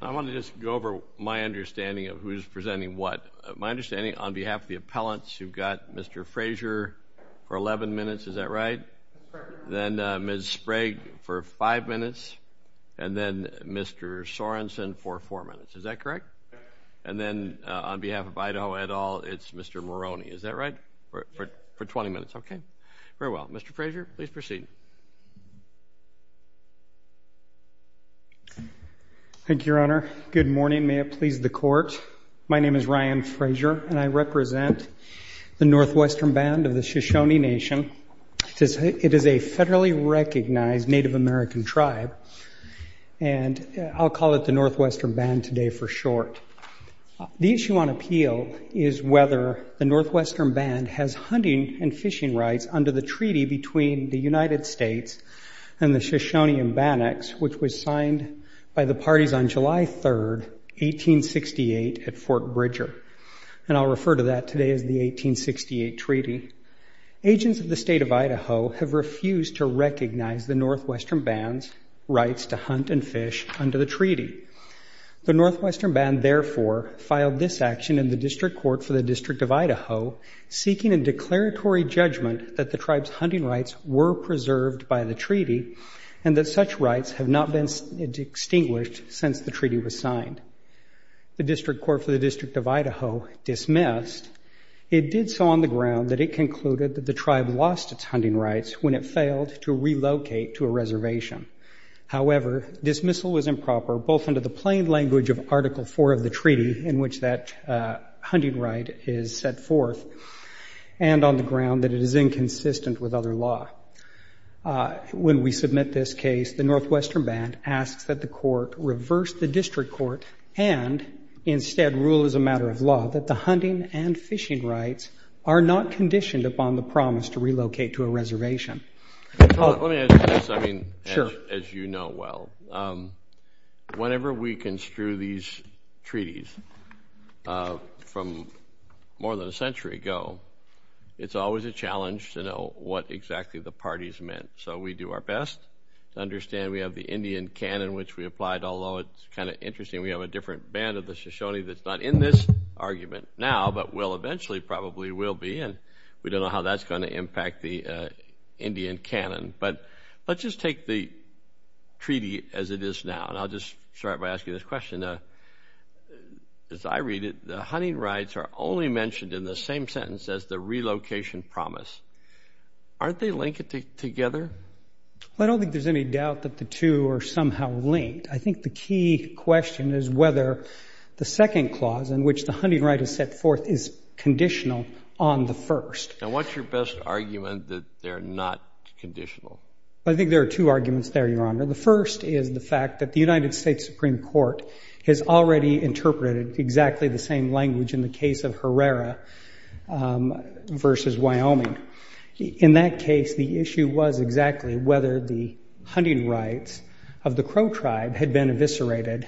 I want to just go over my understanding of who's presenting what. My understanding on behalf of the appellants, you've got Mr. Frazier for 11 minutes, is that right? Then Ms. Sprague for 5 minutes, and then Mr. Sorensen for 4 minutes, is that correct? And then on behalf of Idaho et al., it's Mr. Moroney, is that right? For 20 minutes, okay. Very well. Mr. Frazier, please proceed. Thank you, Your Honor. Good morning. May it please the Court. My name is Ryan Frazier, and I represent the Northwestern Band of the Shoshone Nation. It is a federally recognized Native American tribe, and I'll call it the Northwestern Band today for short. The issue on appeal is whether the Northwestern Band has hunting and fishing rights under the treaty between the United States and the Shoshone and Bannocks, which was signed by the parties on July 3, 1868, at Fort Bridger. And I'll refer to that today as the 1868 treaty. Agents of the State of Idaho have refused to recognize the Northwestern Band's rights to hunt and fish under the treaty. The Northwestern Band, therefore, filed this action in the District Court for the District of Idaho, seeking a declaratory judgment that the tribe's hunting rights were preserved by the treaty, and that such rights have not been extinguished since the treaty was signed. The District Court for the District of Idaho dismissed. It did so on the ground that it concluded that the tribe lost its reservation. However, dismissal was improper, both under the plain language of Article 4 of the treaty, in which that hunting right is set forth, and on the ground that it is inconsistent with other law. When we submit this case, the Northwestern Band asks that the court reverse the District Court, and instead rule as a matter of law that the hunting and fishing rights are not conditioned upon the promise to relocate to a reservation. Let me add to this, I mean, as you know well. Whenever we construe these treaties from more than a century ago, it's always a challenge to know what exactly the parties meant. So we do our best to understand. We have the Indian canon, which we applied, although it's kind of interesting. We have a different band of the Shoshone that's not in this argument now, but will eventually probably will be, and we don't know how that's going to impact the Indian canon. But let's just take the treaty as it is now, and I'll just start by asking this question. As I read it, the hunting rights are only mentioned in the same sentence as the relocation promise. Aren't they linked together? Well, I don't think there's any doubt that the two are somehow linked. I think the key question is whether the second clause, in which the hunting right is set forth, is conditional on the first. Now, what's your best argument that they're not conditional? I think there are two arguments there, Your Honor. The first is the fact that the United States Supreme Court has already interpreted exactly the same language in the case of Herrera versus Wyoming. In that case, the issue was exactly whether the hunting rights of the Crow tribe had been eviscerated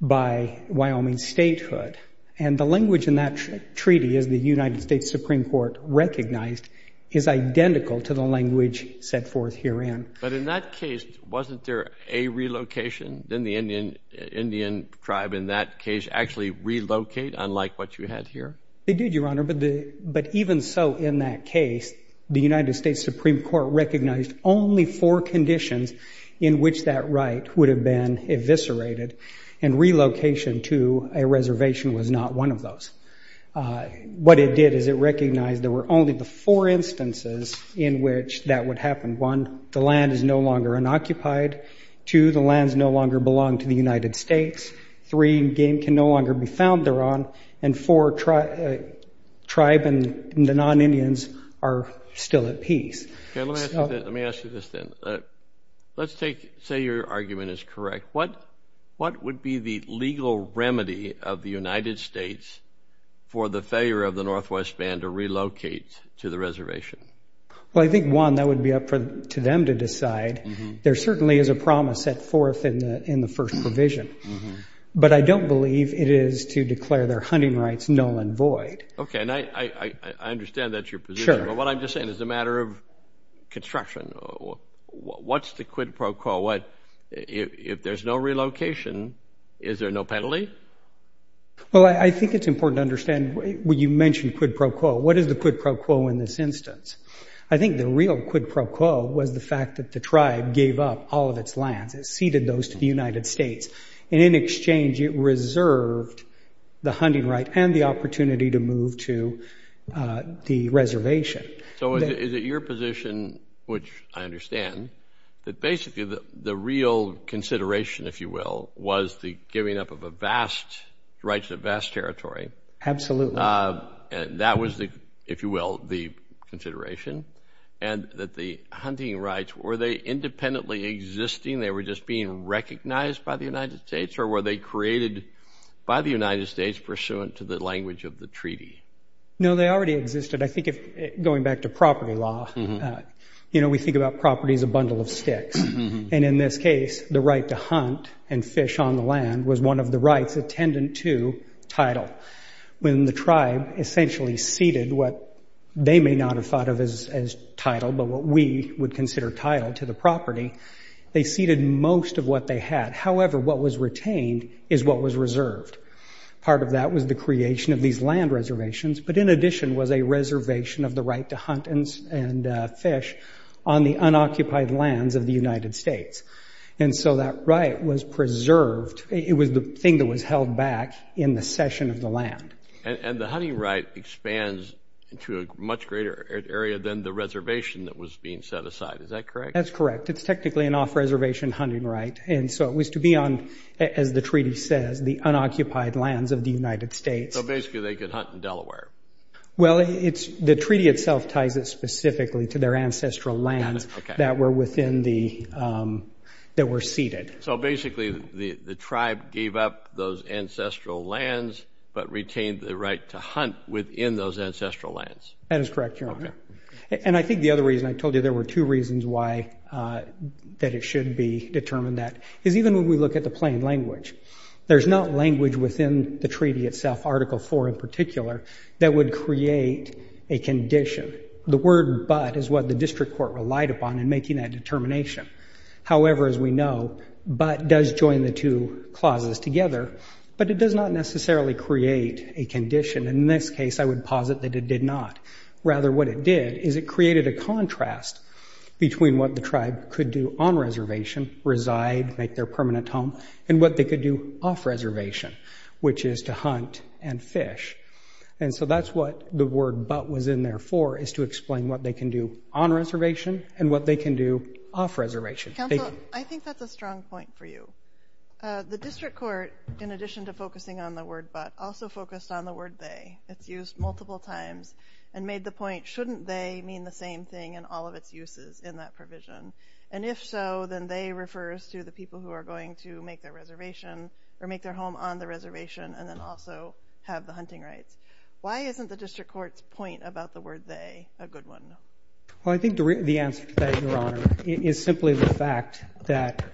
by Wyoming statehood. And the language in that treaty as the United States Supreme Court recognized is identical to the language set forth herein. But in that case, wasn't there a relocation? Didn't the Indian tribe in that case actually relocate, unlike what you had here? They did, Your Honor. But even so, in that case, the United States Supreme Court recognized only four conditions in which that right would have been eviscerated, and relocation to a What it did is it recognized there were only the four instances in which that would happen. One, the land is no longer unoccupied. Two, the lands no longer belong to the United States. Three, game can no longer be found thereon. And four, tribe and the non-Indians are still at peace. Let me ask you this then. Let's say your argument is correct. What would be the legal remedy of the United States for the failure of the Northwest Band to relocate to the reservation? Well, I think, Juan, that would be up to them to decide. There certainly is a promise set forth in the First Provision. But I don't believe it is to declare their hunting rights null and void. Okay. And I understand that's your position. Sure. But what I'm just saying is a matter of construction. What's the quid pro quo? If there's no relocation, is there no penalty? Well, I think it's important to understand when you mention quid pro quo, what is the quid pro quo in this instance? I think the real quid pro quo was the fact that the tribe gave up all of its lands. It ceded those to the United States. And in exchange, it reserved the hunting right and the opportunity to move to the reservation. So is it your position, which I understand, that basically the real consideration, if you will, was the giving up of rights of vast territory? Absolutely. And that was, if you will, the consideration? And that the hunting rights, were they independently existing? They were just being recognized by the United States? Or were they created by the United States pursuant to the language of the treaty? No, they already existed. I think going back to property law, we think about property as a bundle of sticks. And in this case, the right to hunt and fish on the land was one of the rights attendant to title. When the tribe essentially ceded what they may not have thought of as title, but what we would consider title to the property, they ceded most of what they had. However, what was retained is what was reserved. Part of that was the creation of these land reservations. But in addition was a reservation of the right to hunt and fish on the unoccupied lands of the United States. And so that right was preserved. It was the thing that was held back in the session of the land. And the hunting right expands to a much greater area than the reservation that was being set aside. Is that correct? That's correct. It's technically an off-reservation hunting right. And so it was to be on, as the treaty says, the unoccupied lands of the United States. So basically they could hunt in Delaware. Well, the treaty itself ties it specifically to their ancestral lands that were within the, that were ceded. So basically the tribe gave up those ancestral lands, but retained the right to hunt within those ancestral lands. That is correct, Your Honor. And I think the other reason, I told you there were two reasons why that it should be determined that, is even when we look at the plain language. There's not language within the treaty itself, Article 4 in particular, that would create a condition. The word but is what the district court relied upon in making that determination. However, as we know, but does join the two clauses together, but it does not necessarily create a condition. In this case, I would posit that it did not. Rather, what it did is it created a contrast between what the tribe could do on reservation, reside, make their permanent home, and what they could do off reservation, which is to hunt and fish. And so that's what the word but was in there for, is to explain what they can do on reservation and what they can do off reservation. Counsel, I think that's a strong point for you. The district court, in addition to focusing on the word but, also focused on the word they. It's used multiple times and made the point, shouldn't they mean the same thing in all of its uses in that provision? And if so, then they refers to the people who are going to make their home on the reservation and then also have the hunting rights. Why isn't the district court's point about the word they a good one? Well, I think the answer to that, Your Honor, is simply the fact that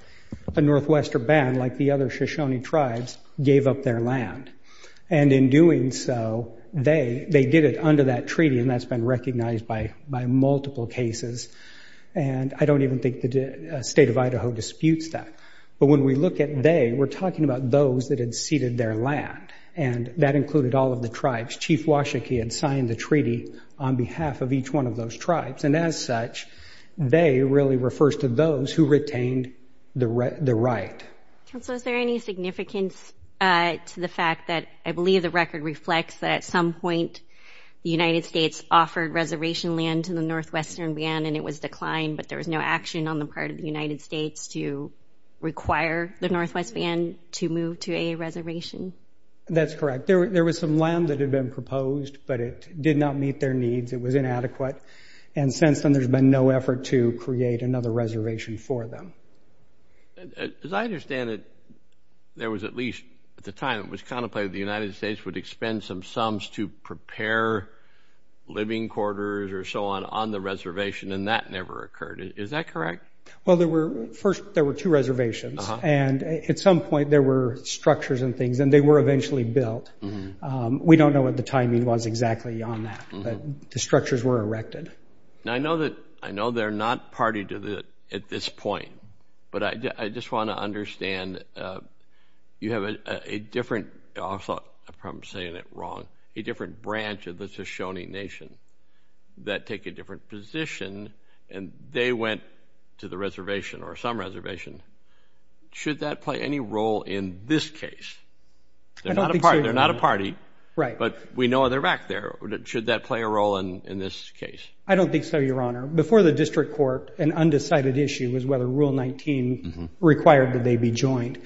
a Northwestern band, like the other Shoshone tribes, gave up their land. And in doing so, they did it under that treaty, and that's been recognized by multiple cases. And I don't even think the state of Idaho disputes that. But when we look at they, we're talking about those that had ceded their land. And that included all of the tribes. Chief Washakie had signed the treaty on behalf of each one of those tribes. And as such, they really refers to those who retained the right. Counsel, is there any significance to the fact that I believe the record reflects that some point the United States offered reservation land to the Northwestern band and it was declined, but there was no action on the part of the United States to require the Northwest band to move to a reservation? That's correct. There was some land that had been proposed, but it did not meet their needs. It was inadequate. And since then, there's been no effort to create another reservation for them. As I understand it, there was at least at the time it was contemplated the United States would expend some sums to prepare living quarters or so on on the reservation. And that never occurred. Is that correct? Well, there were first, there were two reservations. And at some point, there were structures and things and they were eventually built. We don't know what the timing was exactly on that. But the structures were erected. Now, I know that I know they're not party to that at this point. But I just want to understand, you have a different, I'm saying it wrong, a different branch of the Shoshone Nation that take a different position and they went to the reservation or some reservation. Should that play any role in this case? They're not a party, but we know they're back there. Should that play a role in this case? I don't think so, Your Honor. Before the district court, an undecided issue was whether Rule 19 required that they be joined.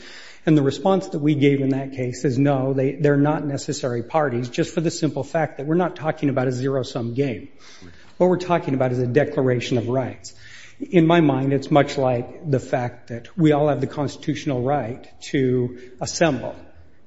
And the response that we gave in that case is no, they're not necessary parties, just for the simple fact that we're not talking about a zero-sum game. What we're talking about is a declaration of rights. In my mind, it's much like the fact that we all have the constitutional right to assemble.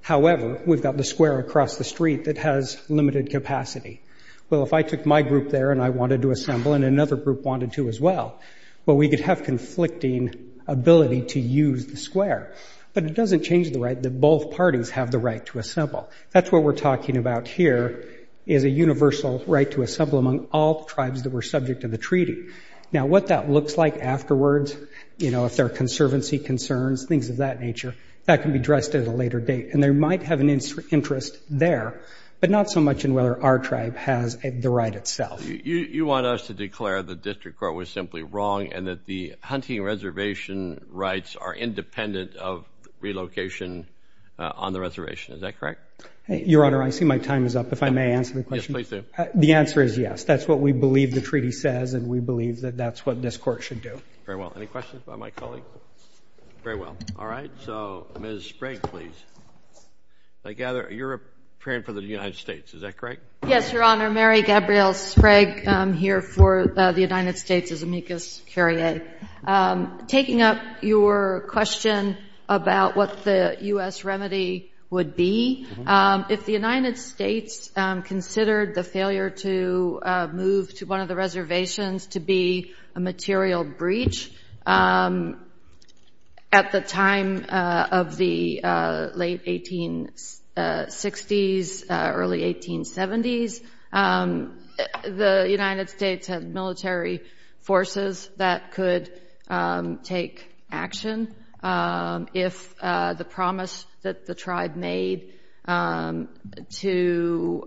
However, we've got the square across the street that has limited capacity. Well, if I took my group there and I wanted to assemble and another group wanted to as well, well, we could have conflicting ability to use the square. But it doesn't change the right that both parties have the right to assemble. That's what we're talking about here is a universal right to assemble among all tribes that were subject to the treaty. Now, what that looks like afterwards, if there are conservancy concerns, things of that nature, that can be addressed at a later date. And they might have an interest there, but not so much in whether our tribe has the right itself. You want us to declare the district court was simply wrong and that the hunting reservation rights are independent of relocation on the reservation. Is that correct? Your Honor, I see my time is up. If I may answer the question. Yes, please do. The answer is yes. That's what we believe the treaty says. And we believe that that's what this court should do. Very well. Any questions by my colleague? Very well. All right. So, Ms. Sprague, please. I gather you're preparing for the United States. Is that correct? Yes, Your Honor. Mary Gabrielle Sprague here for the United States as amicus curiae. Taking up your question about what the U.S. remedy would be, if the United States considered the failure to move to one of the reservations to be a material breach at the time of the late 1860s, early 1870s, the United States had military forces that could take action. If the promise that the tribe made to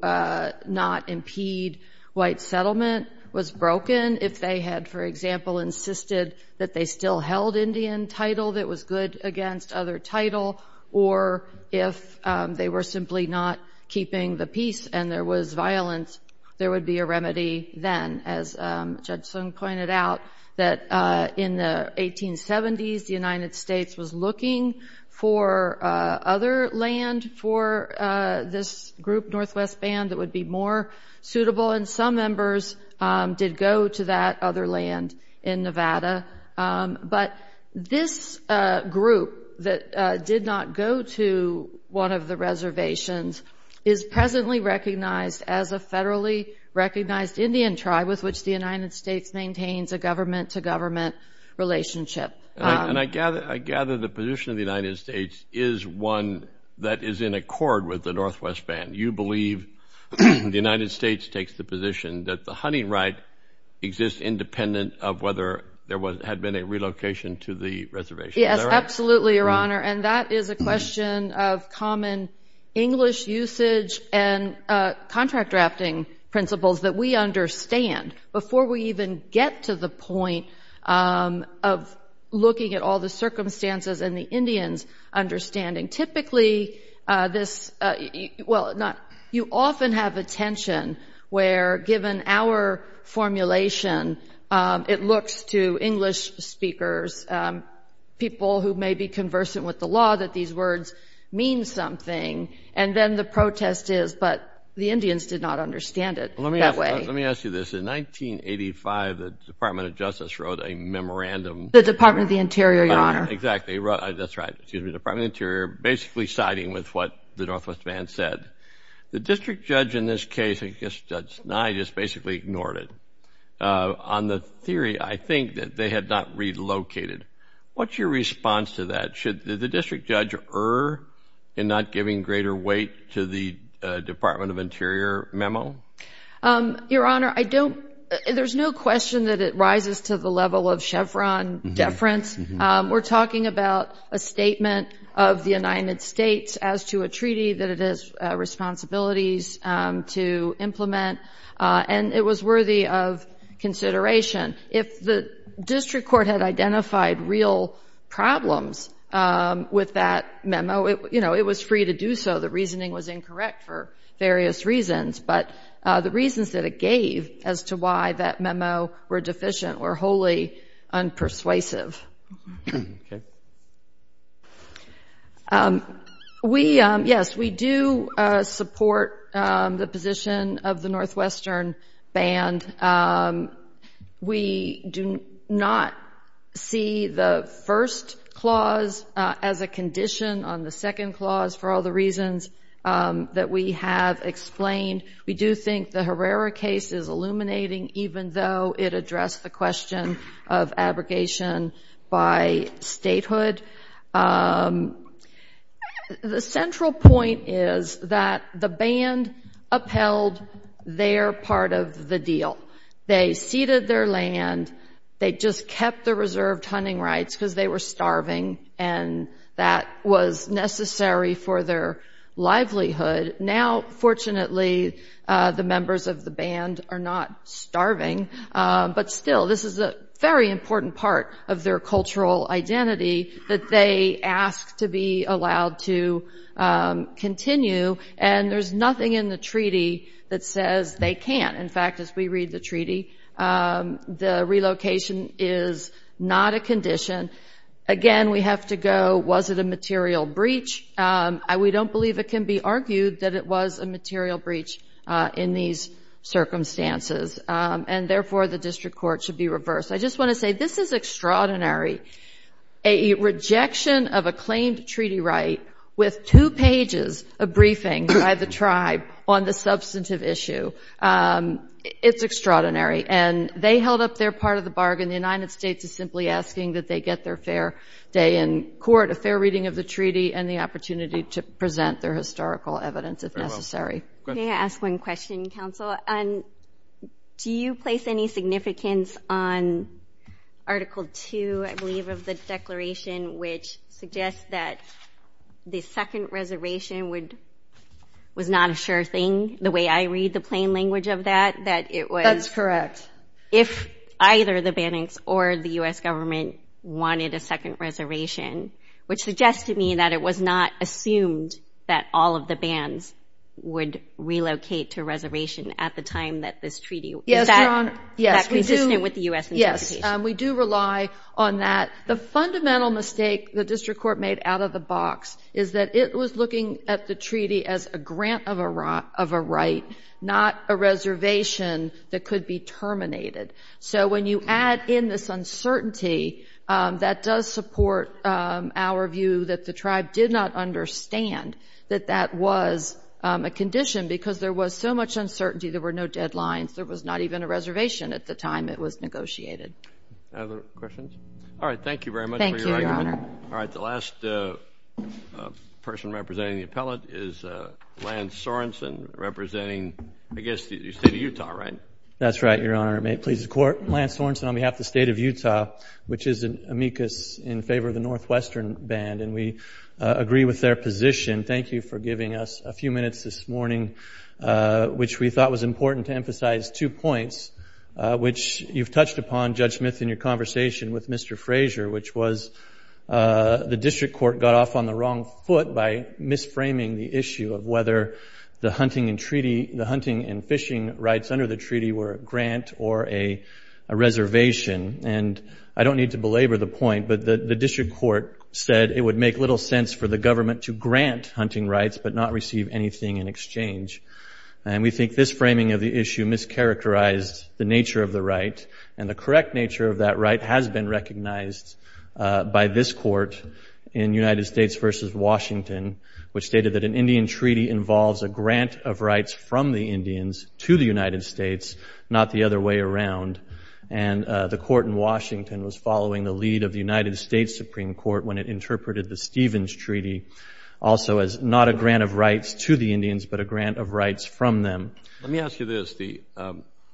not impede white settlement was broken, if they had, for example, insisted that they still held Indian title that was good against other title, or if they were simply not keeping the peace and there was violence, there would be a remedy then. As Judson pointed out, that in the 1870s, the United States was looking for other land for this group, Northwest Band, that would be more suitable. And some members did go to that other land in Nevada. But this group that did not go to one of the reservations is presently recognized as a federally recognized Indian tribe with which the United States maintains a government-to-government relationship. And I gather the position of the United States is one that is in accord with the Northwest Band. You believe the United States takes the position that the hunting right exists independent of whether there had been a relocation to the reservation. Yes, absolutely, Your Honor. And that is a question of common English usage and contract drafting principles that we understand before we even get to the point of looking at all the circumstances and the Indians' understanding. Typically, you often have a tension where, given our formulation, it looks to English speakers, people who may be conversant with the law, that these words mean something. And then the protest is, but the Indians did not understand it that way. Let me ask you this. In 1985, the Department of Justice wrote a memorandum. The Department of the Interior, Your Honor. Exactly, that's right. Excuse me, Department of the Interior, basically siding with what the Northwest Band said. The district judge in this case, I guess Judge Nye, just basically ignored it. On the theory, I think that they had not relocated. What's your response to that? Should the district judge err in not giving greater weight to the Department of Interior memo? Your Honor, there's no question that it rises to the level of chevron deference. We're talking about a statement of the United States as to a treaty that it has responsibilities to implement. And it was worthy of consideration. If the district court had identified real problems with that memo, it was free to do so. The reasoning was incorrect for various reasons. But the reasons that it gave as to why that memo were deficient were wholly unpersuasive. OK. We, yes, we do support the position of the Northwestern Band. We do not see the first clause as a condition on the second clause for all the reasons that we have explained. We do think the Herrera case is illuminating, even though it addressed the question of abrogation by statehood. The central point is that the band upheld their part of the deal. They ceded their land. They just kept the reserved hunting rights because they were starving and that was necessary for their livelihood. Now, fortunately, the members of the band are not starving. But still, this is a very important part of their cultural identity that they ask to be allowed to continue. And there's nothing in the treaty that says they can't. In fact, as we read the treaty, the relocation is not a condition. Again, we have to go, was it a material breach? We don't believe it can be argued that it was a material breach in these circumstances. And therefore, the district court should be reversed. I just want to say, this is extraordinary. A rejection of a claimed treaty right with two pages of briefing by the tribe on the substantive issue, it's extraordinary. And they held up their part of the bargain. The United States is simply asking that they get their fair day in court, a fair reading of the treaty, and the opportunity to present their historical evidence if necessary. Go ahead. Can I ask one question, counsel? Do you place any significance on Article 2, I believe, of the declaration which suggests that the second reservation would – was not a sure thing, the way I read the plain language of that, that it was – That's correct. If either the Banninks or the U.S. government wanted a second reservation, which suggested to me that it was not assumed that all of the Banns would relocate to reservation at the time that this treaty – Yes, Your Honor. Is that consistent with the U.S. interpretation? Yes. We do rely on that. The fundamental mistake the district court made out of the box is that it was looking at the treaty as a grant of a right, not a reservation that could be terminated. So when you add in this uncertainty, that does support our view that the tribe did not understand that that was a condition because there was so much uncertainty. There were no deadlines. There was not even a reservation at the time it was negotiated. Other questions? Thank you very much for your argument. Thank you, Your Honor. All right. The last person representing the appellate is Lance Sorensen, representing, I guess, the state of Utah, right? That's right, Your Honor. Lance Sorensen on behalf of the state of Utah, which is an amicus in favor of the Northwestern Band, and we agree with their position. Thank you for giving us a few minutes this morning, which we thought was important to emphasize two points, which you've touched upon, Judge Smith, in your conversation with Mr. Frazier, which was the district court got off on the wrong foot by misframing the issue of whether the hunting and treaty – the hunting and fishing rights under the treaty were a grant or a reservation. And I don't need to belabor the point, but the district court said it would make little sense for the government to grant hunting rights but not receive anything in exchange. And we think this framing of the issue mischaracterized the nature of the right, and the correct nature of that right has been recognized by this court in United States v. Washington, which stated that an Indian treaty involves a grant of rights from the Indians to the United States, not the other way around. And the court in Washington was following the lead of the United States Supreme Court when it interpreted the Stevens Treaty also as not a grant of rights to the Indians, but a grant of rights from them. Let me ask you this, Steve.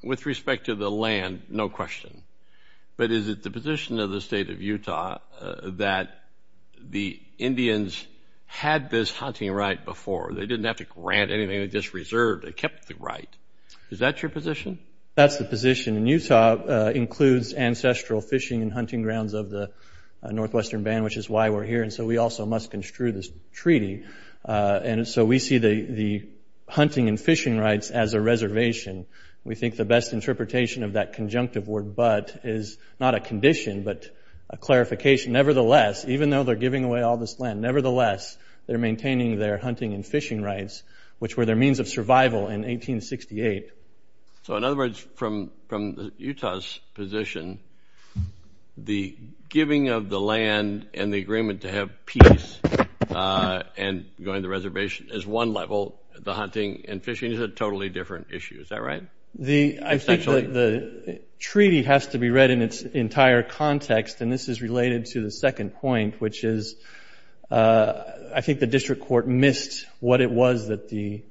With respect to the land, no question. But is it the position of the state of Utah that the Indians had this hunting right before? They didn't have to grant anything. They just reserved and kept the right. Is that your position? That's the position. And Utah includes ancestral fishing and hunting grounds of the Northwestern Band, which is why we're here. And so we also must construe this treaty. And so we see the hunting and fishing rights as a reservation. We think the best interpretation of that conjunctive word but is not a condition, but a clarification. Nevertheless, even though they're giving away all this land, nevertheless, they're maintaining their hunting and fishing rights, which were their means of survival in 1868. So in other words, from Utah's position, the giving of the land and the agreement to have peace and going to the reservation is one level. The hunting and fishing is a totally different issue. Is that right? I think the treaty has to be read in its entire context. And this is related to the second point, which is I think the district court missed what it was that the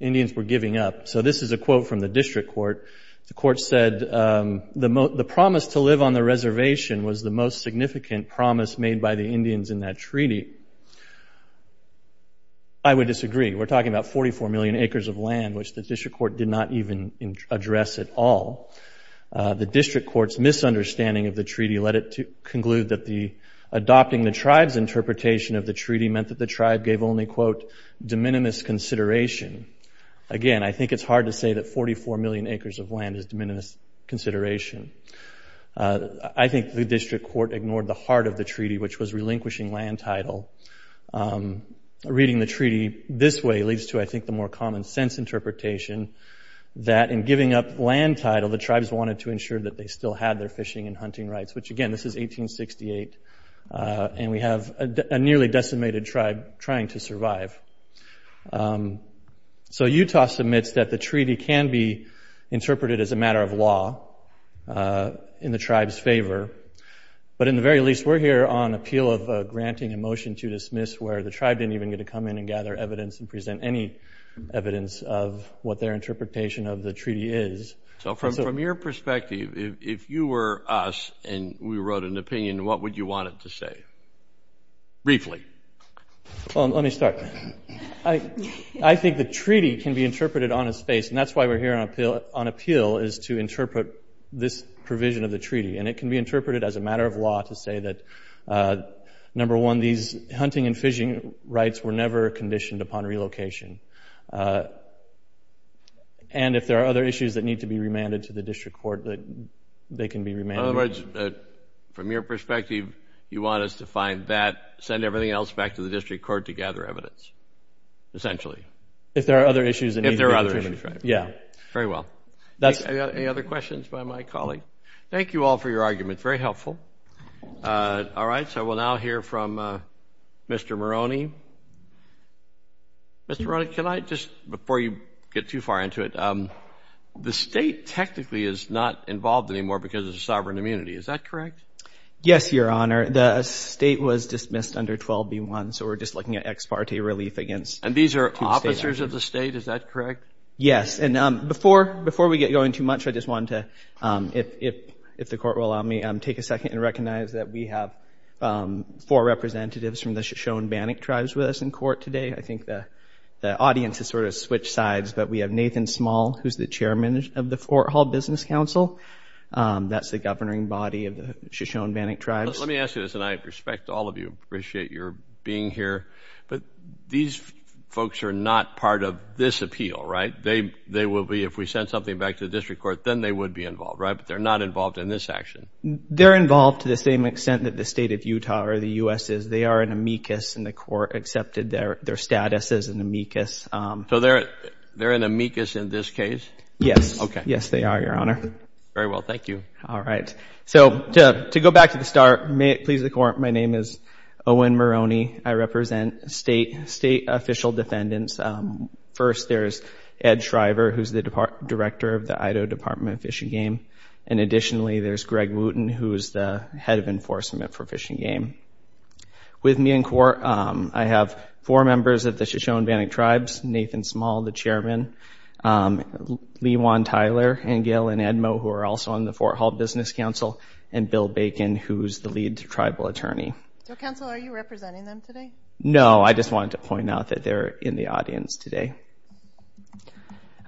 Indians were giving up. So this is a quote from the district court. The court said, the promise to live on the reservation was the most significant promise made by the Indians in that treaty. I would disagree. We're talking about 44 million acres of land, which the district court did not even address at all. The district court's misunderstanding of the treaty led it to conclude that adopting the tribe's interpretation of the treaty meant that the tribe gave only, quote, de minimis consideration. Again, I think it's hard to say that 44 million acres of land is de minimis consideration. I think the district court ignored the heart of the treaty, which was relinquishing land title. Reading the treaty this way leads to, I think, the more common sense interpretation that in giving up land title, the tribes wanted to ensure that they still had their fishing and hunting rights, which again, this is 1868. And we have a nearly decimated tribe trying to survive. So Utah submits that the treaty can be interpreted as a matter of law in the tribe's favor. But in the very least, we're here on appeal of granting a motion to dismiss where the tribe didn't even get to come in and gather evidence and present any evidence of what their interpretation of the treaty is. So from your perspective, if you were us and we wrote an opinion, what would you want it to say? Briefly. Well, let me start. I think the treaty can be interpreted on its face, and that's why we're here on appeal, is to interpret this provision of the treaty. And it can be interpreted as a matter of law to say that, number one, these hunting and fishing rights were never conditioned upon relocation. And if there are other issues that need to be remanded to the district court, they can be remanded. In other words, from your perspective, you want us to find that, send everything else back to the district court to gather evidence, essentially. If there are other issues that need to be determined. If there are other issues. Yeah. Very well. Any other questions by my colleague? Thank you all for your arguments. All right. So we'll now hear from Mr. Moroney. Mr. Moroney, can you hear me? Before you get too far into it, the state technically is not involved anymore because of the sovereign immunity. Is that correct? Yes, Your Honor. The state was dismissed under 12B1. So we're just looking at ex parte relief against two states. And these are officers of the state? Is that correct? Yes. And before we get going too much, I just wanted to, if the court will allow me, take a second and recognize that we have four representatives from the Shoshone-Bannock tribes with us in court today. I think the audience has sort of switched sides. But we have Nathan Small, who's the chairman of the Fort Hall Business Council. That's the governing body of the Shoshone-Bannock tribes. Let me ask you this. And I respect all of you, appreciate your being here. But these folks are not part of this appeal, right? They will be. If we sent something back to the district court, then they would be involved, right? But they're not involved in this action. They're involved to the same extent that the state of Utah or the US is. They are an amicus. And the court accepted their status as an amicus. So they're an amicus in this case? Yes. Yes, they are, Your Honor. Very well. Thank you. All right. So to go back to the start, may it please the court, my name is Owen Maroney. I represent state official defendants. First, there's Ed Shriver, who's the director of the Idaho Department of Fish and Game. And additionally, there's Greg Wooten, who is the head of enforcement for Fish and Game. With me in court, I have four members of the Shoshone-Bannock Tribes, Nathan Small, the chairman, Lee Juan Tyler, and Gail Ann Edmo, who are also on the Fort Hall Business Council, and Bill Bacon, who's the lead tribal attorney. So, counsel, are you representing them today? No, I just wanted to point out that they're in the audience today.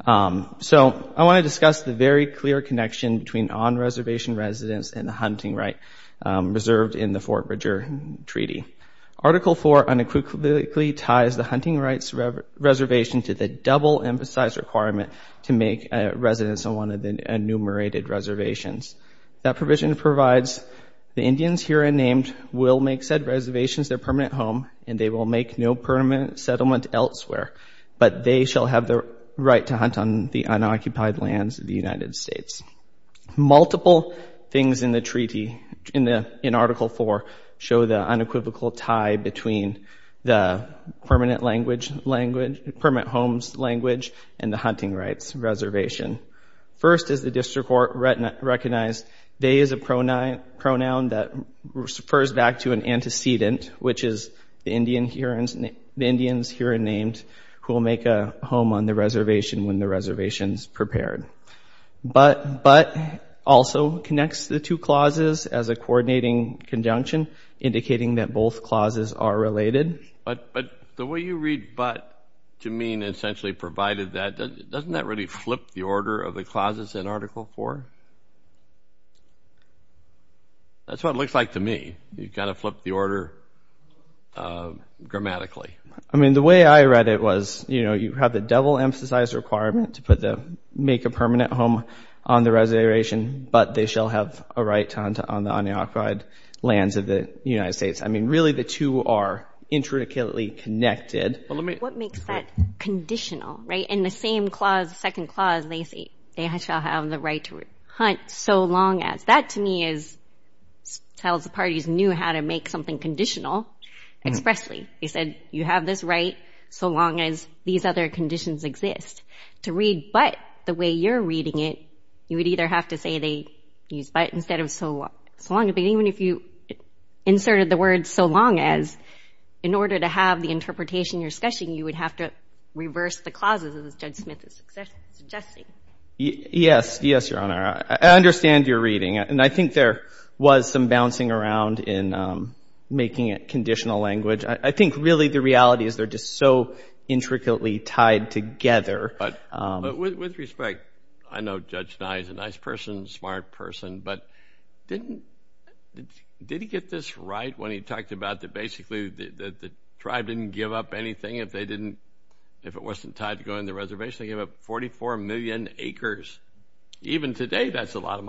So I want to discuss the very clear connection between on-reservation residents and the hunting right reserved in the Fort Bridger Treaty. Article 4 unequivocally ties the hunting rights reservation to the double-emphasized requirement to make a residence on one of the enumerated reservations. That provision provides the Indians here are named will make said reservations their permanent home, and they will make no permanent settlement elsewhere, but they shall have the right to hunt on the unoccupied lands of the United States. Multiple things in the treaty, in Article 4, show the unequivocal tie between the permanent language, language, permanent homes language, and the hunting rights reservation. First, as the district court recognized, they is a pronoun that refers back to an antecedent, which is the Indians here are named who will make a home on the reservation when the reservation's prepared. But also connects the two clauses as a coordinating conjunction, indicating that both clauses are related. But the way you read but to mean essentially provided that, doesn't that really flip the order of the clauses in Article 4? That's what it looks like to me. You've got to flip the order grammatically. I mean, the way I read it was, you know, you have the double-emphasized requirement to make a permanent home on the reservation, but they shall have a right to hunt on the unoccupied lands of the United States. I mean, really the two are intricately connected. What makes that conditional, right? In the same clause, second clause, they shall have the right to hunt so long as. That to me tells the parties knew how to make something conditional expressly. They said, you have this right so long as these other conditions exist. To read but the way you're reading it, you would either have to say they use but instead of so long as. But even if you inserted the word so long as, in order to have the interpretation you're discussing, you would have to reverse the clauses as Judge Smith is suggesting. Yes, yes, Your Honor. I understand you're reading, and I think there was some bouncing around in making it conditional language. I think really the reality is they're just so intricately tied together. With respect, I know Judge Nye is a nice person, smart person, but did he get this right when he talked about that basically that the tribe didn't give up anything if it wasn't tied to going to the reservation? They gave up 44 million acres. Even today, that's a lot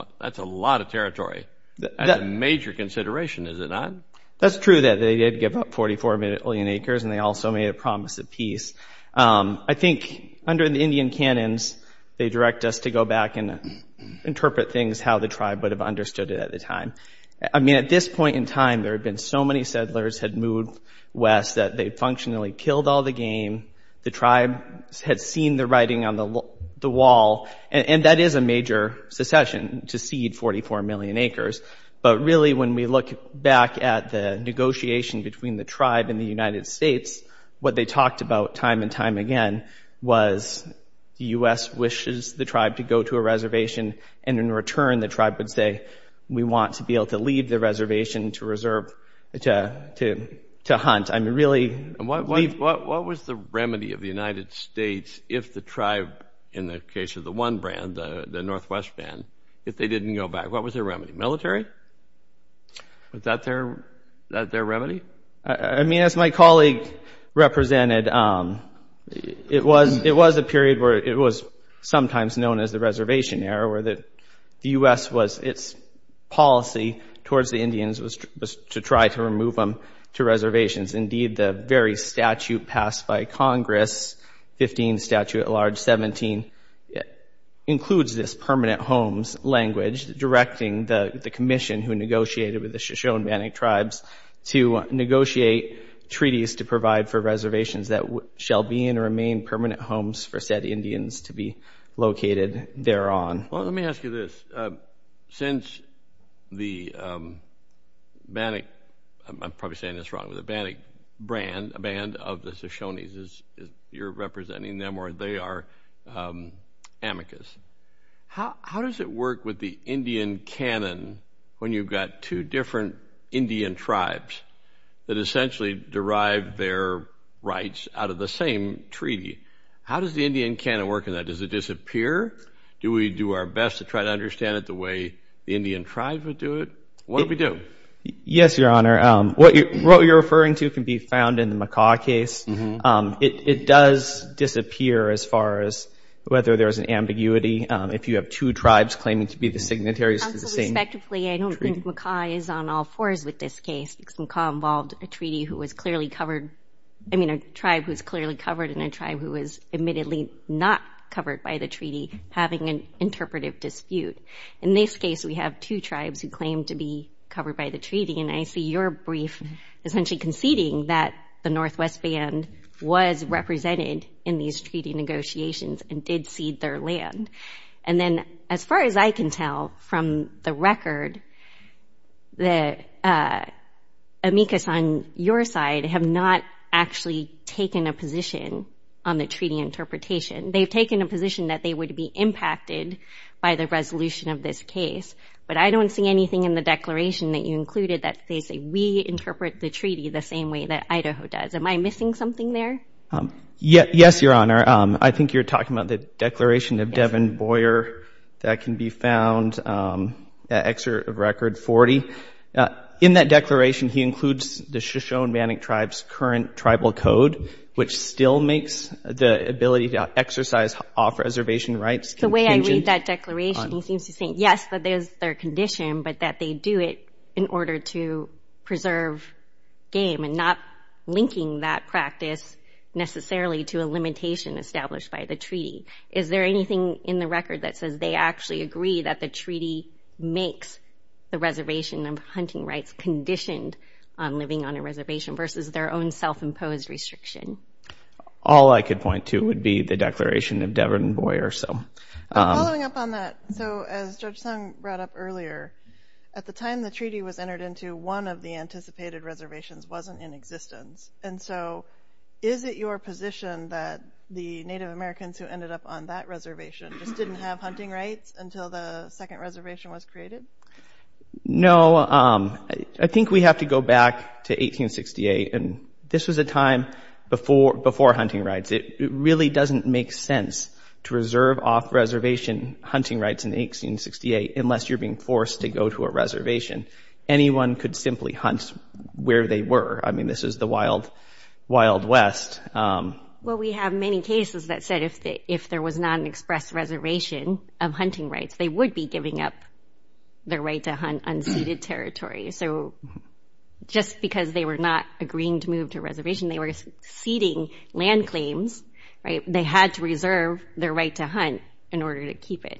of territory. That's a major consideration, is it not? That's true that they did give up 44 million acres and they also made a promise of peace. I think under the Indian canons, they direct us to go back and interpret things how the tribe would have understood it at the time. At this point in time, there had been so many settlers had moved west that they functionally killed all the game. The tribe had seen the writing on the wall, and that is a major secession to cede 44 million acres. But really, when we look back at the negotiation between the tribe and the United States, what they talked about time and time again was the U.S. wishes the tribe to go to a reservation, and in return, the tribe would say, we want to be able to leave the reservation to hunt. What was the remedy of the United States if the tribe, in the case of the one brand, the Northwest band, if they didn't go back? What was their remedy? Military? Was that their remedy? I mean, as my colleague represented, it was a period where it was sometimes known as the reservation era, where the U.S. was, its policy towards the Indians was to try to remove them to reservations. Indeed, the very statute passed by Congress, 15th statute at large, 17, includes this permanent homes language directing the commission who negotiated with the Shoshone-Bannock tribes to negotiate treaties to provide for reservations that shall be and remain permanent homes for said Indians to be located thereon. Well, let me ask you this. Since the Bannock, I'm probably saying this wrong, the Bannock brand, a band of the Shoshones, you're representing them, or they are amicus. How does it work with the Indian canon when you've got two different Indian tribes that essentially derive their rights out of the same treaty? How does the Indian canon work in that? Does it disappear? Do we do our best to try to understand it the way the Indian tribe would do it? What do we do? Yes, Your Honor. What you're referring to can be found in the McCaw case. It does disappear as far as whether there's an ambiguity if you have two tribes claiming to be the signatories. Counsel, respectively, I don't think McCaw is on all fours with this case because McCaw involved a treaty who was clearly covered. I mean, a tribe who's clearly covered and a tribe who is admittedly not covered by the treaty having an interpretive dispute. In this case, we have two tribes who claim to be covered by the treaty. And I see your brief essentially conceding that the Northwest Band was represented in these treaty negotiations and did cede their land. And then as far as I can tell from the record, the amicus on your side have not actually taken a position on the treaty interpretation. They've taken a position that they would be impacted by the resolution of this case. But I don't see anything in the declaration that you included that they say we interpret the treaty the same way that Idaho does. Am I missing something there? Yes, Your Honor. I think you're talking about the declaration of Devin Boyer that can be found at Excerpt of Record 40. In that declaration, he includes the Shoshone-Bannock tribe's current tribal code, which still makes the ability to exercise off-reservation rights contingent on- The way I read that declaration, he seems to think, yes, that there's their condition, but that they do it in order to preserve game and not linking that practice necessarily to a limitation established by the treaty. Is there anything in the record that says they actually agree that the treaty makes the reservation of hunting rights conditioned on living on a reservation versus their own self-imposed restriction? All I could point to would be the declaration of Devin Boyer, so- Following up on that, so as Judge Sung brought up earlier, at the time the treaty was entered into, one of the anticipated reservations wasn't in existence. And so is it your position that the Native Americans who ended up on that reservation just didn't have hunting rights until the second reservation was created? No, I think we have to go back to 1868. And this was a time before hunting rights. It really doesn't make sense to reserve off-reservation hunting rights in 1868 unless you're being forced to go to a reservation. Anyone could simply hunt where they were. I mean, this is the Wild West. Well, we have many cases that said if there was not an express reservation of hunting rights, they would be giving up their right to hunt unceded territory. So just because they were not agreeing to move to a reservation, they were ceding land claims, right? They had to reserve their right to hunt in order to keep it.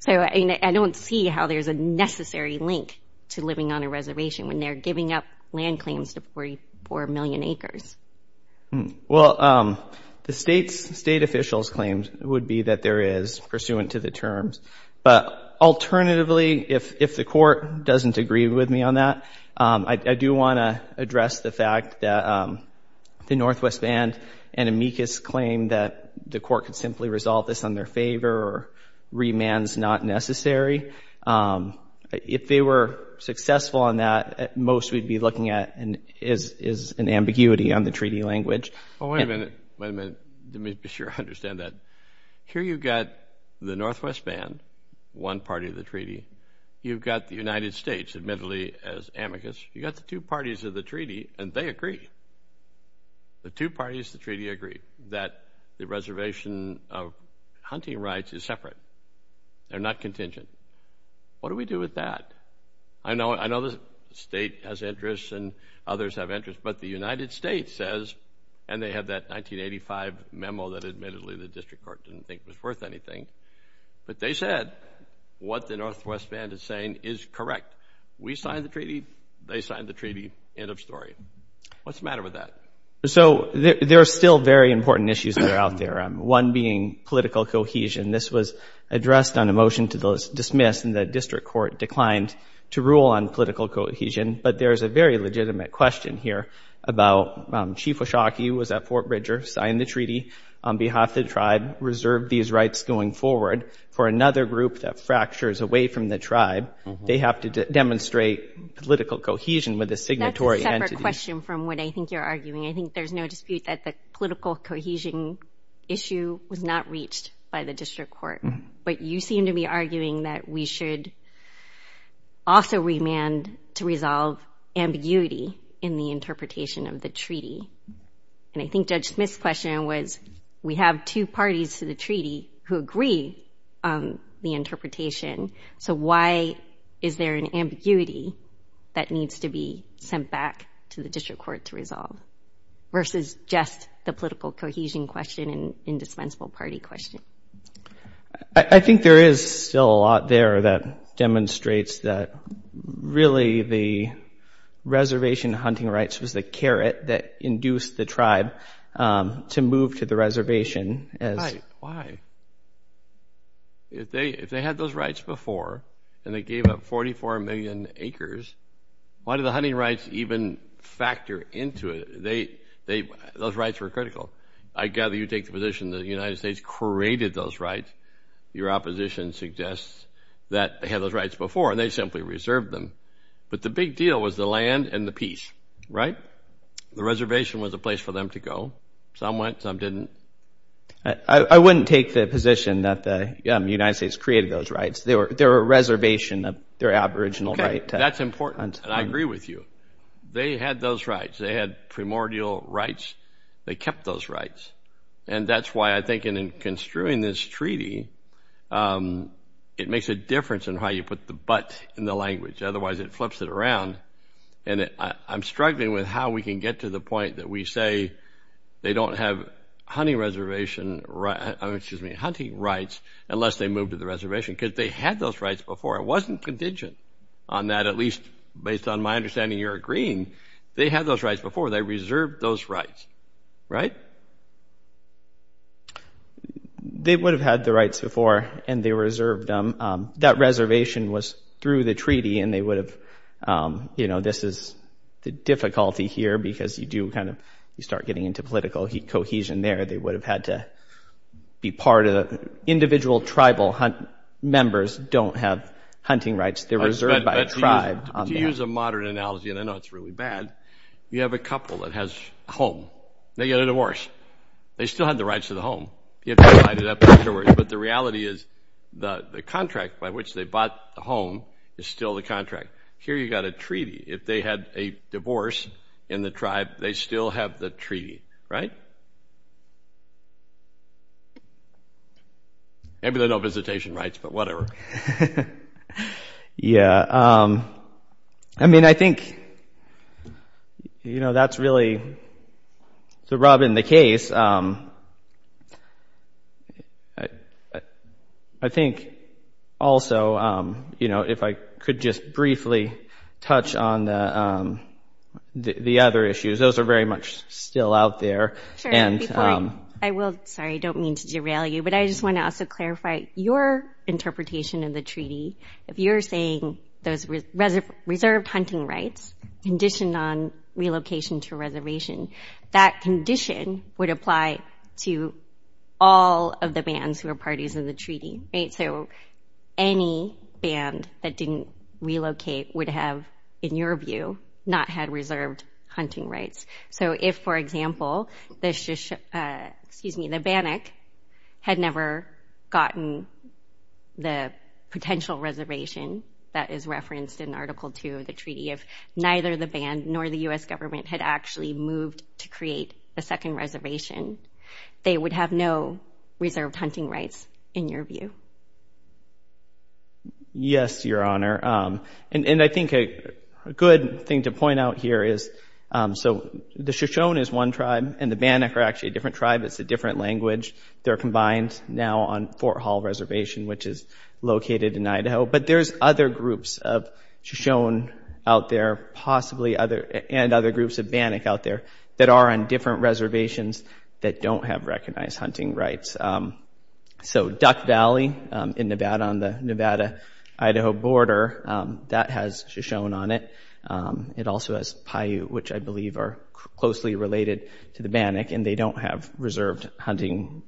So I don't see how there's a necessary link to living on a reservation when they're giving up land claims to 44 million acres. Well, the state officials' claims would be that there is pursuant to the terms. But alternatively, if the court doesn't agree with me on that, I do want to address the fact that the Northwest Band and amicus claim that the court could simply resolve this on their favor or remand's not necessary. If they were successful on that, most we'd be looking at is an ambiguity on the treaty language. Oh, wait a minute. Wait a minute. Let me be sure I understand that. Here you've got the Northwest Band, one party of the treaty. You've got the United States, admittedly, as amicus. You've got the two parties of the treaty, and they agree. The two parties of the treaty agree that the reservation of hunting rights is separate. They're not contingent. What do we do with that? I know the state has interests and others have interests, but the United States says, and they have that 1985 memo that admittedly the district court didn't think was worth anything, but they said what the Northwest Band is saying is correct. We signed the treaty. They signed the treaty. End of story. What's the matter with that? So there are still very important issues that are out there, one being political cohesion. This was addressed on a motion to dismiss, and the district court declined to rule on political cohesion. But there's a very legitimate question here about Chief O'Shaughnessy was at Fort Bridger, signed the treaty on behalf of the tribe, reserved these rights going forward for another group that fractures away from the tribe. They have to demonstrate political cohesion with a signatory entity. That's a separate question from what I think you're arguing. I think there's no dispute that the political cohesion issue was not reached by the district court. But you seem to be arguing that we should also remand to resolve ambiguity in the interpretation of the treaty. And I think Judge Smith's question was, we have two parties to the treaty who agree on the interpretation. So why is there an ambiguity that needs to be sent back to the district court to resolve versus just the political cohesion question and indispensable party question? I think there is still a lot there that demonstrates that really the reservation hunting rights was the carrot that induced the tribe to move to the reservation. Right, why? If they had those rights before and they gave up 44 million acres, why do the hunting rights even factor into it? Those rights were critical. I gather you take the position the United States created those rights. Your opposition suggests that they had those rights before and they simply reserved them. But the big deal was the land and the peace, right? The reservation was a place for them to go. Some went, some didn't. I wouldn't take the position that the United States created those rights. They were a reservation of their aboriginal right. That's important and I agree with you. They had those rights. They had primordial rights. They kept those rights. And that's why I think in construing this treaty, it makes a difference in how you put the but in the language. Otherwise, it flips it around. And I'm struggling with how we can get to the point that we say they don't have hunting rights unless they move to the reservation because they had those rights before. I wasn't contingent on that, at least based on my understanding you're agreeing. They had those rights before. They reserved those rights, right? They would have had the rights before and they reserved them. That reservation was through the treaty and they would have, you know, this is the difficulty here because you do kind of, you start getting into political cohesion there. They would have had to be part of the individual tribal members don't have hunting rights. They're reserved by a tribe. To use a modern analogy, and I know it's really bad, you have a couple that has a home. They get a divorce. They still have the rights to the home. You have to divide it up afterwards, but the reality is the contract by which they bought the home is still the contract. Here you got a treaty. If they had a divorce in the tribe, they still have the treaty, right? Maybe they don't have visitation rights, but whatever. Yeah, I mean, I think, you know, that's really the rub in the case. I think also, you know, if I could just briefly touch on the other issues. Those are very much still out there. And I will, sorry, I don't mean to derail you, but I just want to also clarify your interpretation of the treaty. If you're saying those reserved hunting rights conditioned on relocation to reservation, that condition would apply to all of the bands who are parties of the treaty, right? So any band that didn't relocate would have, in your view, not had reserved hunting rights. So if, for example, excuse me, the Bannock had never gotten the potential reservation that is referenced in Article 2 of the treaty, if neither the band nor the U.S. government had actually moved to create a second reservation, they would have no reserved hunting rights, in your view. Yes, Your Honor. And I think a good thing to point out here is, so the Shoshone is one tribe and the Bannock are actually a different tribe. It's a different language. They're combined now on Fort Hall Reservation, which is located in Idaho. But there's other groups of Shoshone out there, possibly other, and other groups of Bannock out there that are on different reservations that don't have recognized hunting rights. So Duck Valley in Nevada, on the Nevada-Idaho border, that has Shoshone on it. It also has Paiute, which I believe are closely related to the Bannock and they don't have reserved hunting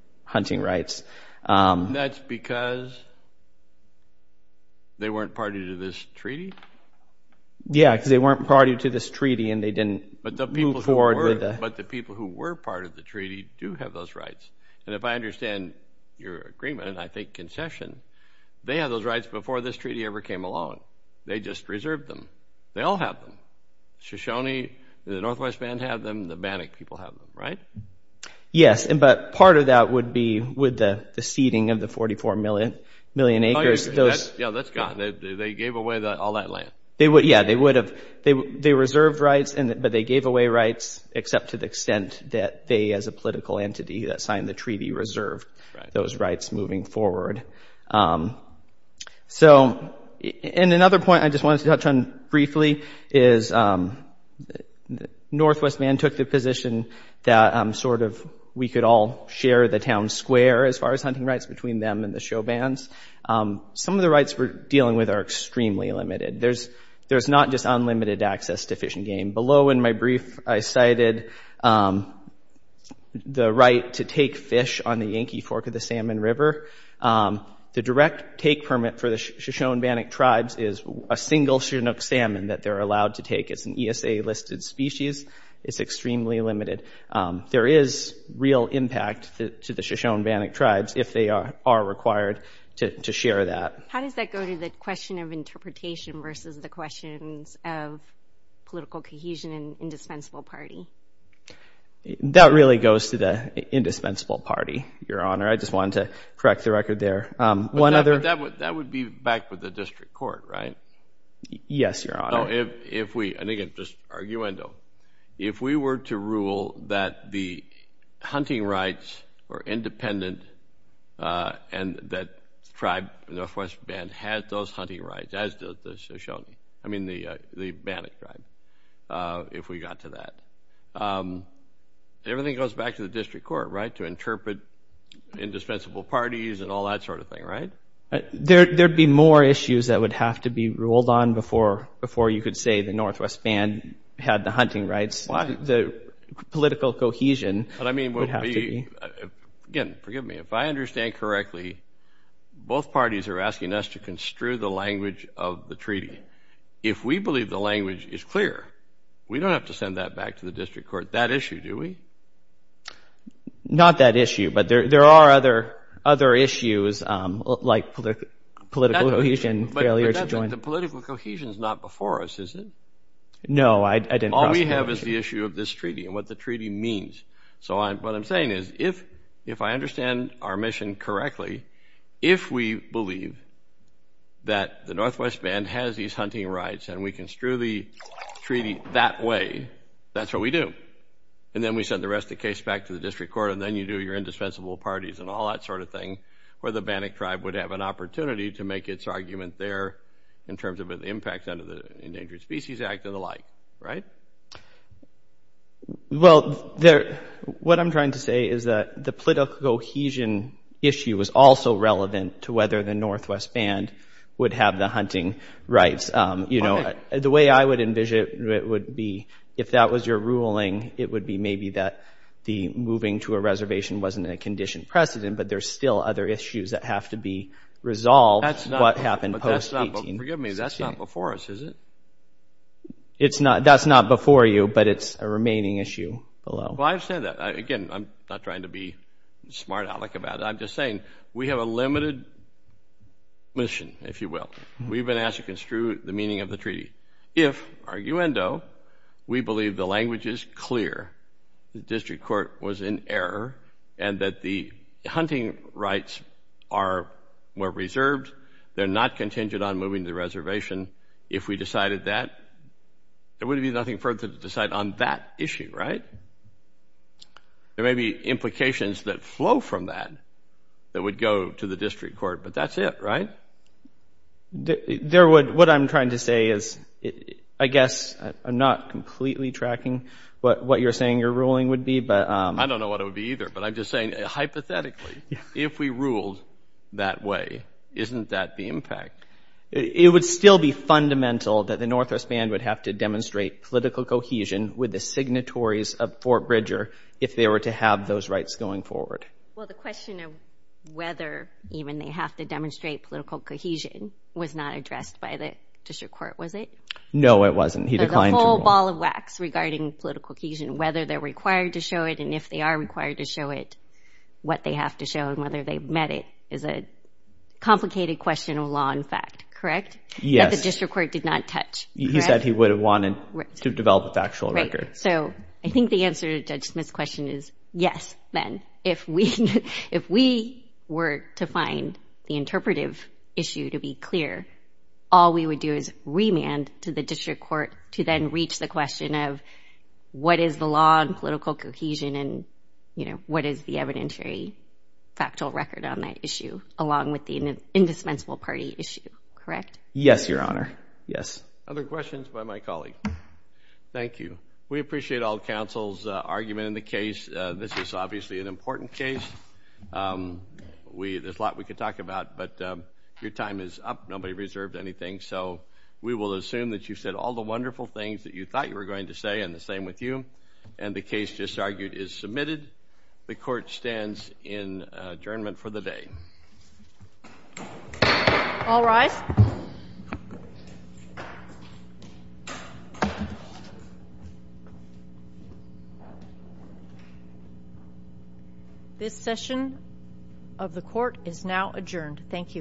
rights. That's because they weren't party to this treaty? Yeah, because they weren't party to this treaty and they didn't move forward with it. But the people who were part of the treaty do have those rights. And if I understand your agreement, and I think concession, they had those rights before this treaty ever came along. They just reserved them. They all have them. Shoshone, the Northwest Band have them, the Bannock people have them, right? Yes, but part of that would be with the seeding of the 44 million. Million acres. Yeah, that's gone. They gave away all that land. Yeah, they would have. They reserved rights, but they gave away rights except to the extent that they as a political entity that signed the treaty reserved those rights moving forward. So, and another point I just wanted to touch on briefly is the Northwest Band took the position that sort of we could all share the town square as far as hunting rights between them and the show bands. Some of the rights we're dealing with are extremely limited. There's not just unlimited access to fish and game. Below in my brief, I cited the right to take fish on the Yankee Fork of the Salmon River. The direct take permit for the Shoshone Bannock tribes is a single Chinook salmon that they're allowed to take. It's an ESA listed species. It's extremely limited. There is real impact to the Shoshone Bannock tribes if they are required to share that. How does that go to the question of interpretation versus the questions of political cohesion and indispensable party? That really goes to the indispensable party, Your Honor. I just wanted to correct the record there. That would be back with the district court, right? Yes, Your Honor. If we, and again, just arguendo, if we were to rule that the hunting rights were independent and that tribe, Northwest Band, had those hunting rights, as does the Shoshone, I mean, the Bannock tribe, if we got to that. Everything goes back to the district court, right? To interpret indispensable parties and all that sort of thing, right? There'd be more issues that would have to be ruled on before you could say the Northwest Band had the hunting rights. The political cohesion would have to be. Again, forgive me, if I understand correctly, both parties are asking us to construe the language of the treaty. If we believe the language is clear, we don't have to send that back to the district court. That issue, do we? Not that issue, but there are other issues like political cohesion. The political cohesion is not before us, is it? No, I didn't cross that. All we have is the issue of this treaty and what the treaty means. So what I'm saying is, if I understand our mission correctly, if we believe that the Northwest Band has these hunting rights and we construe the treaty that way, that's what we do. And then we send the rest of the case back to the district court and then you do your indispensable parties and all that sort of thing where the Bannock tribe would have an opportunity to make its argument there in terms of the impact under the Endangered Species Act and the like, right? Well, what I'm trying to say is that the political cohesion issue was also relevant to whether the Northwest Band would have the hunting rights. The way I would envision it would be, if that was your ruling, it would be maybe that the moving to a reservation wasn't a conditioned precedent, but there's still other issues that have to be resolved, what happened post-1816. But forgive me, that's not before us, is it? That's not before you, but it's a remaining issue below. Well, I understand that. Again, I'm not trying to be smart-aleck about it. I'm just saying we have a limited mission, if you will. We've been asked to construe the meaning of the treaty. If, arguendo, we believe the language is clear, the district court was in error and that the hunting rights are more reserved, they're not contingent on moving to the reservation, if we decided that, there would be nothing further to decide on that issue, right? There may be implications that flow from that that would go to the district court, but that's it, right? What I'm trying to say is, I guess I'm not completely tracking what you're saying your ruling would be, but... I don't know what it would be either, but I'm just saying, hypothetically, if we ruled that way, isn't that the impact? It would still be fundamental that the Northwest Band would have to demonstrate political cohesion with the signatories of Fort Bridger if they were to have those rights going forward. Well, the question of whether even they have to demonstrate political cohesion was not addressed by the district court, was it? No, it wasn't. He declined to rule. The whole ball of wax regarding political cohesion, whether they're required to show it and if they are required to show it, what they have to show and whether they've met it is a complicated question of law and fact, correct? Yes. That the district court did not touch. He said he would have wanted to develop a factual record. So, I think the answer to Judge Smith's question is yes, then. If we were to find the interpretive issue to be clear, all we would do is remand to the district court to then reach the question of what is the law and political cohesion and what is the evidentiary factual record on that issue along with the indispensable party issue, correct? Yes, Your Honor. Yes. Other questions by my colleague. Thank you. We appreciate all counsel's argument in the case. This is obviously an important case. There's a lot we could talk about, but your time is up. Nobody reserved anything. So, we will assume that you said all the wonderful things that you thought you were going to say and the same with you and the case just argued is submitted. The court stands in adjournment for the day. All rise. This session of the court is now adjourned. Thank you.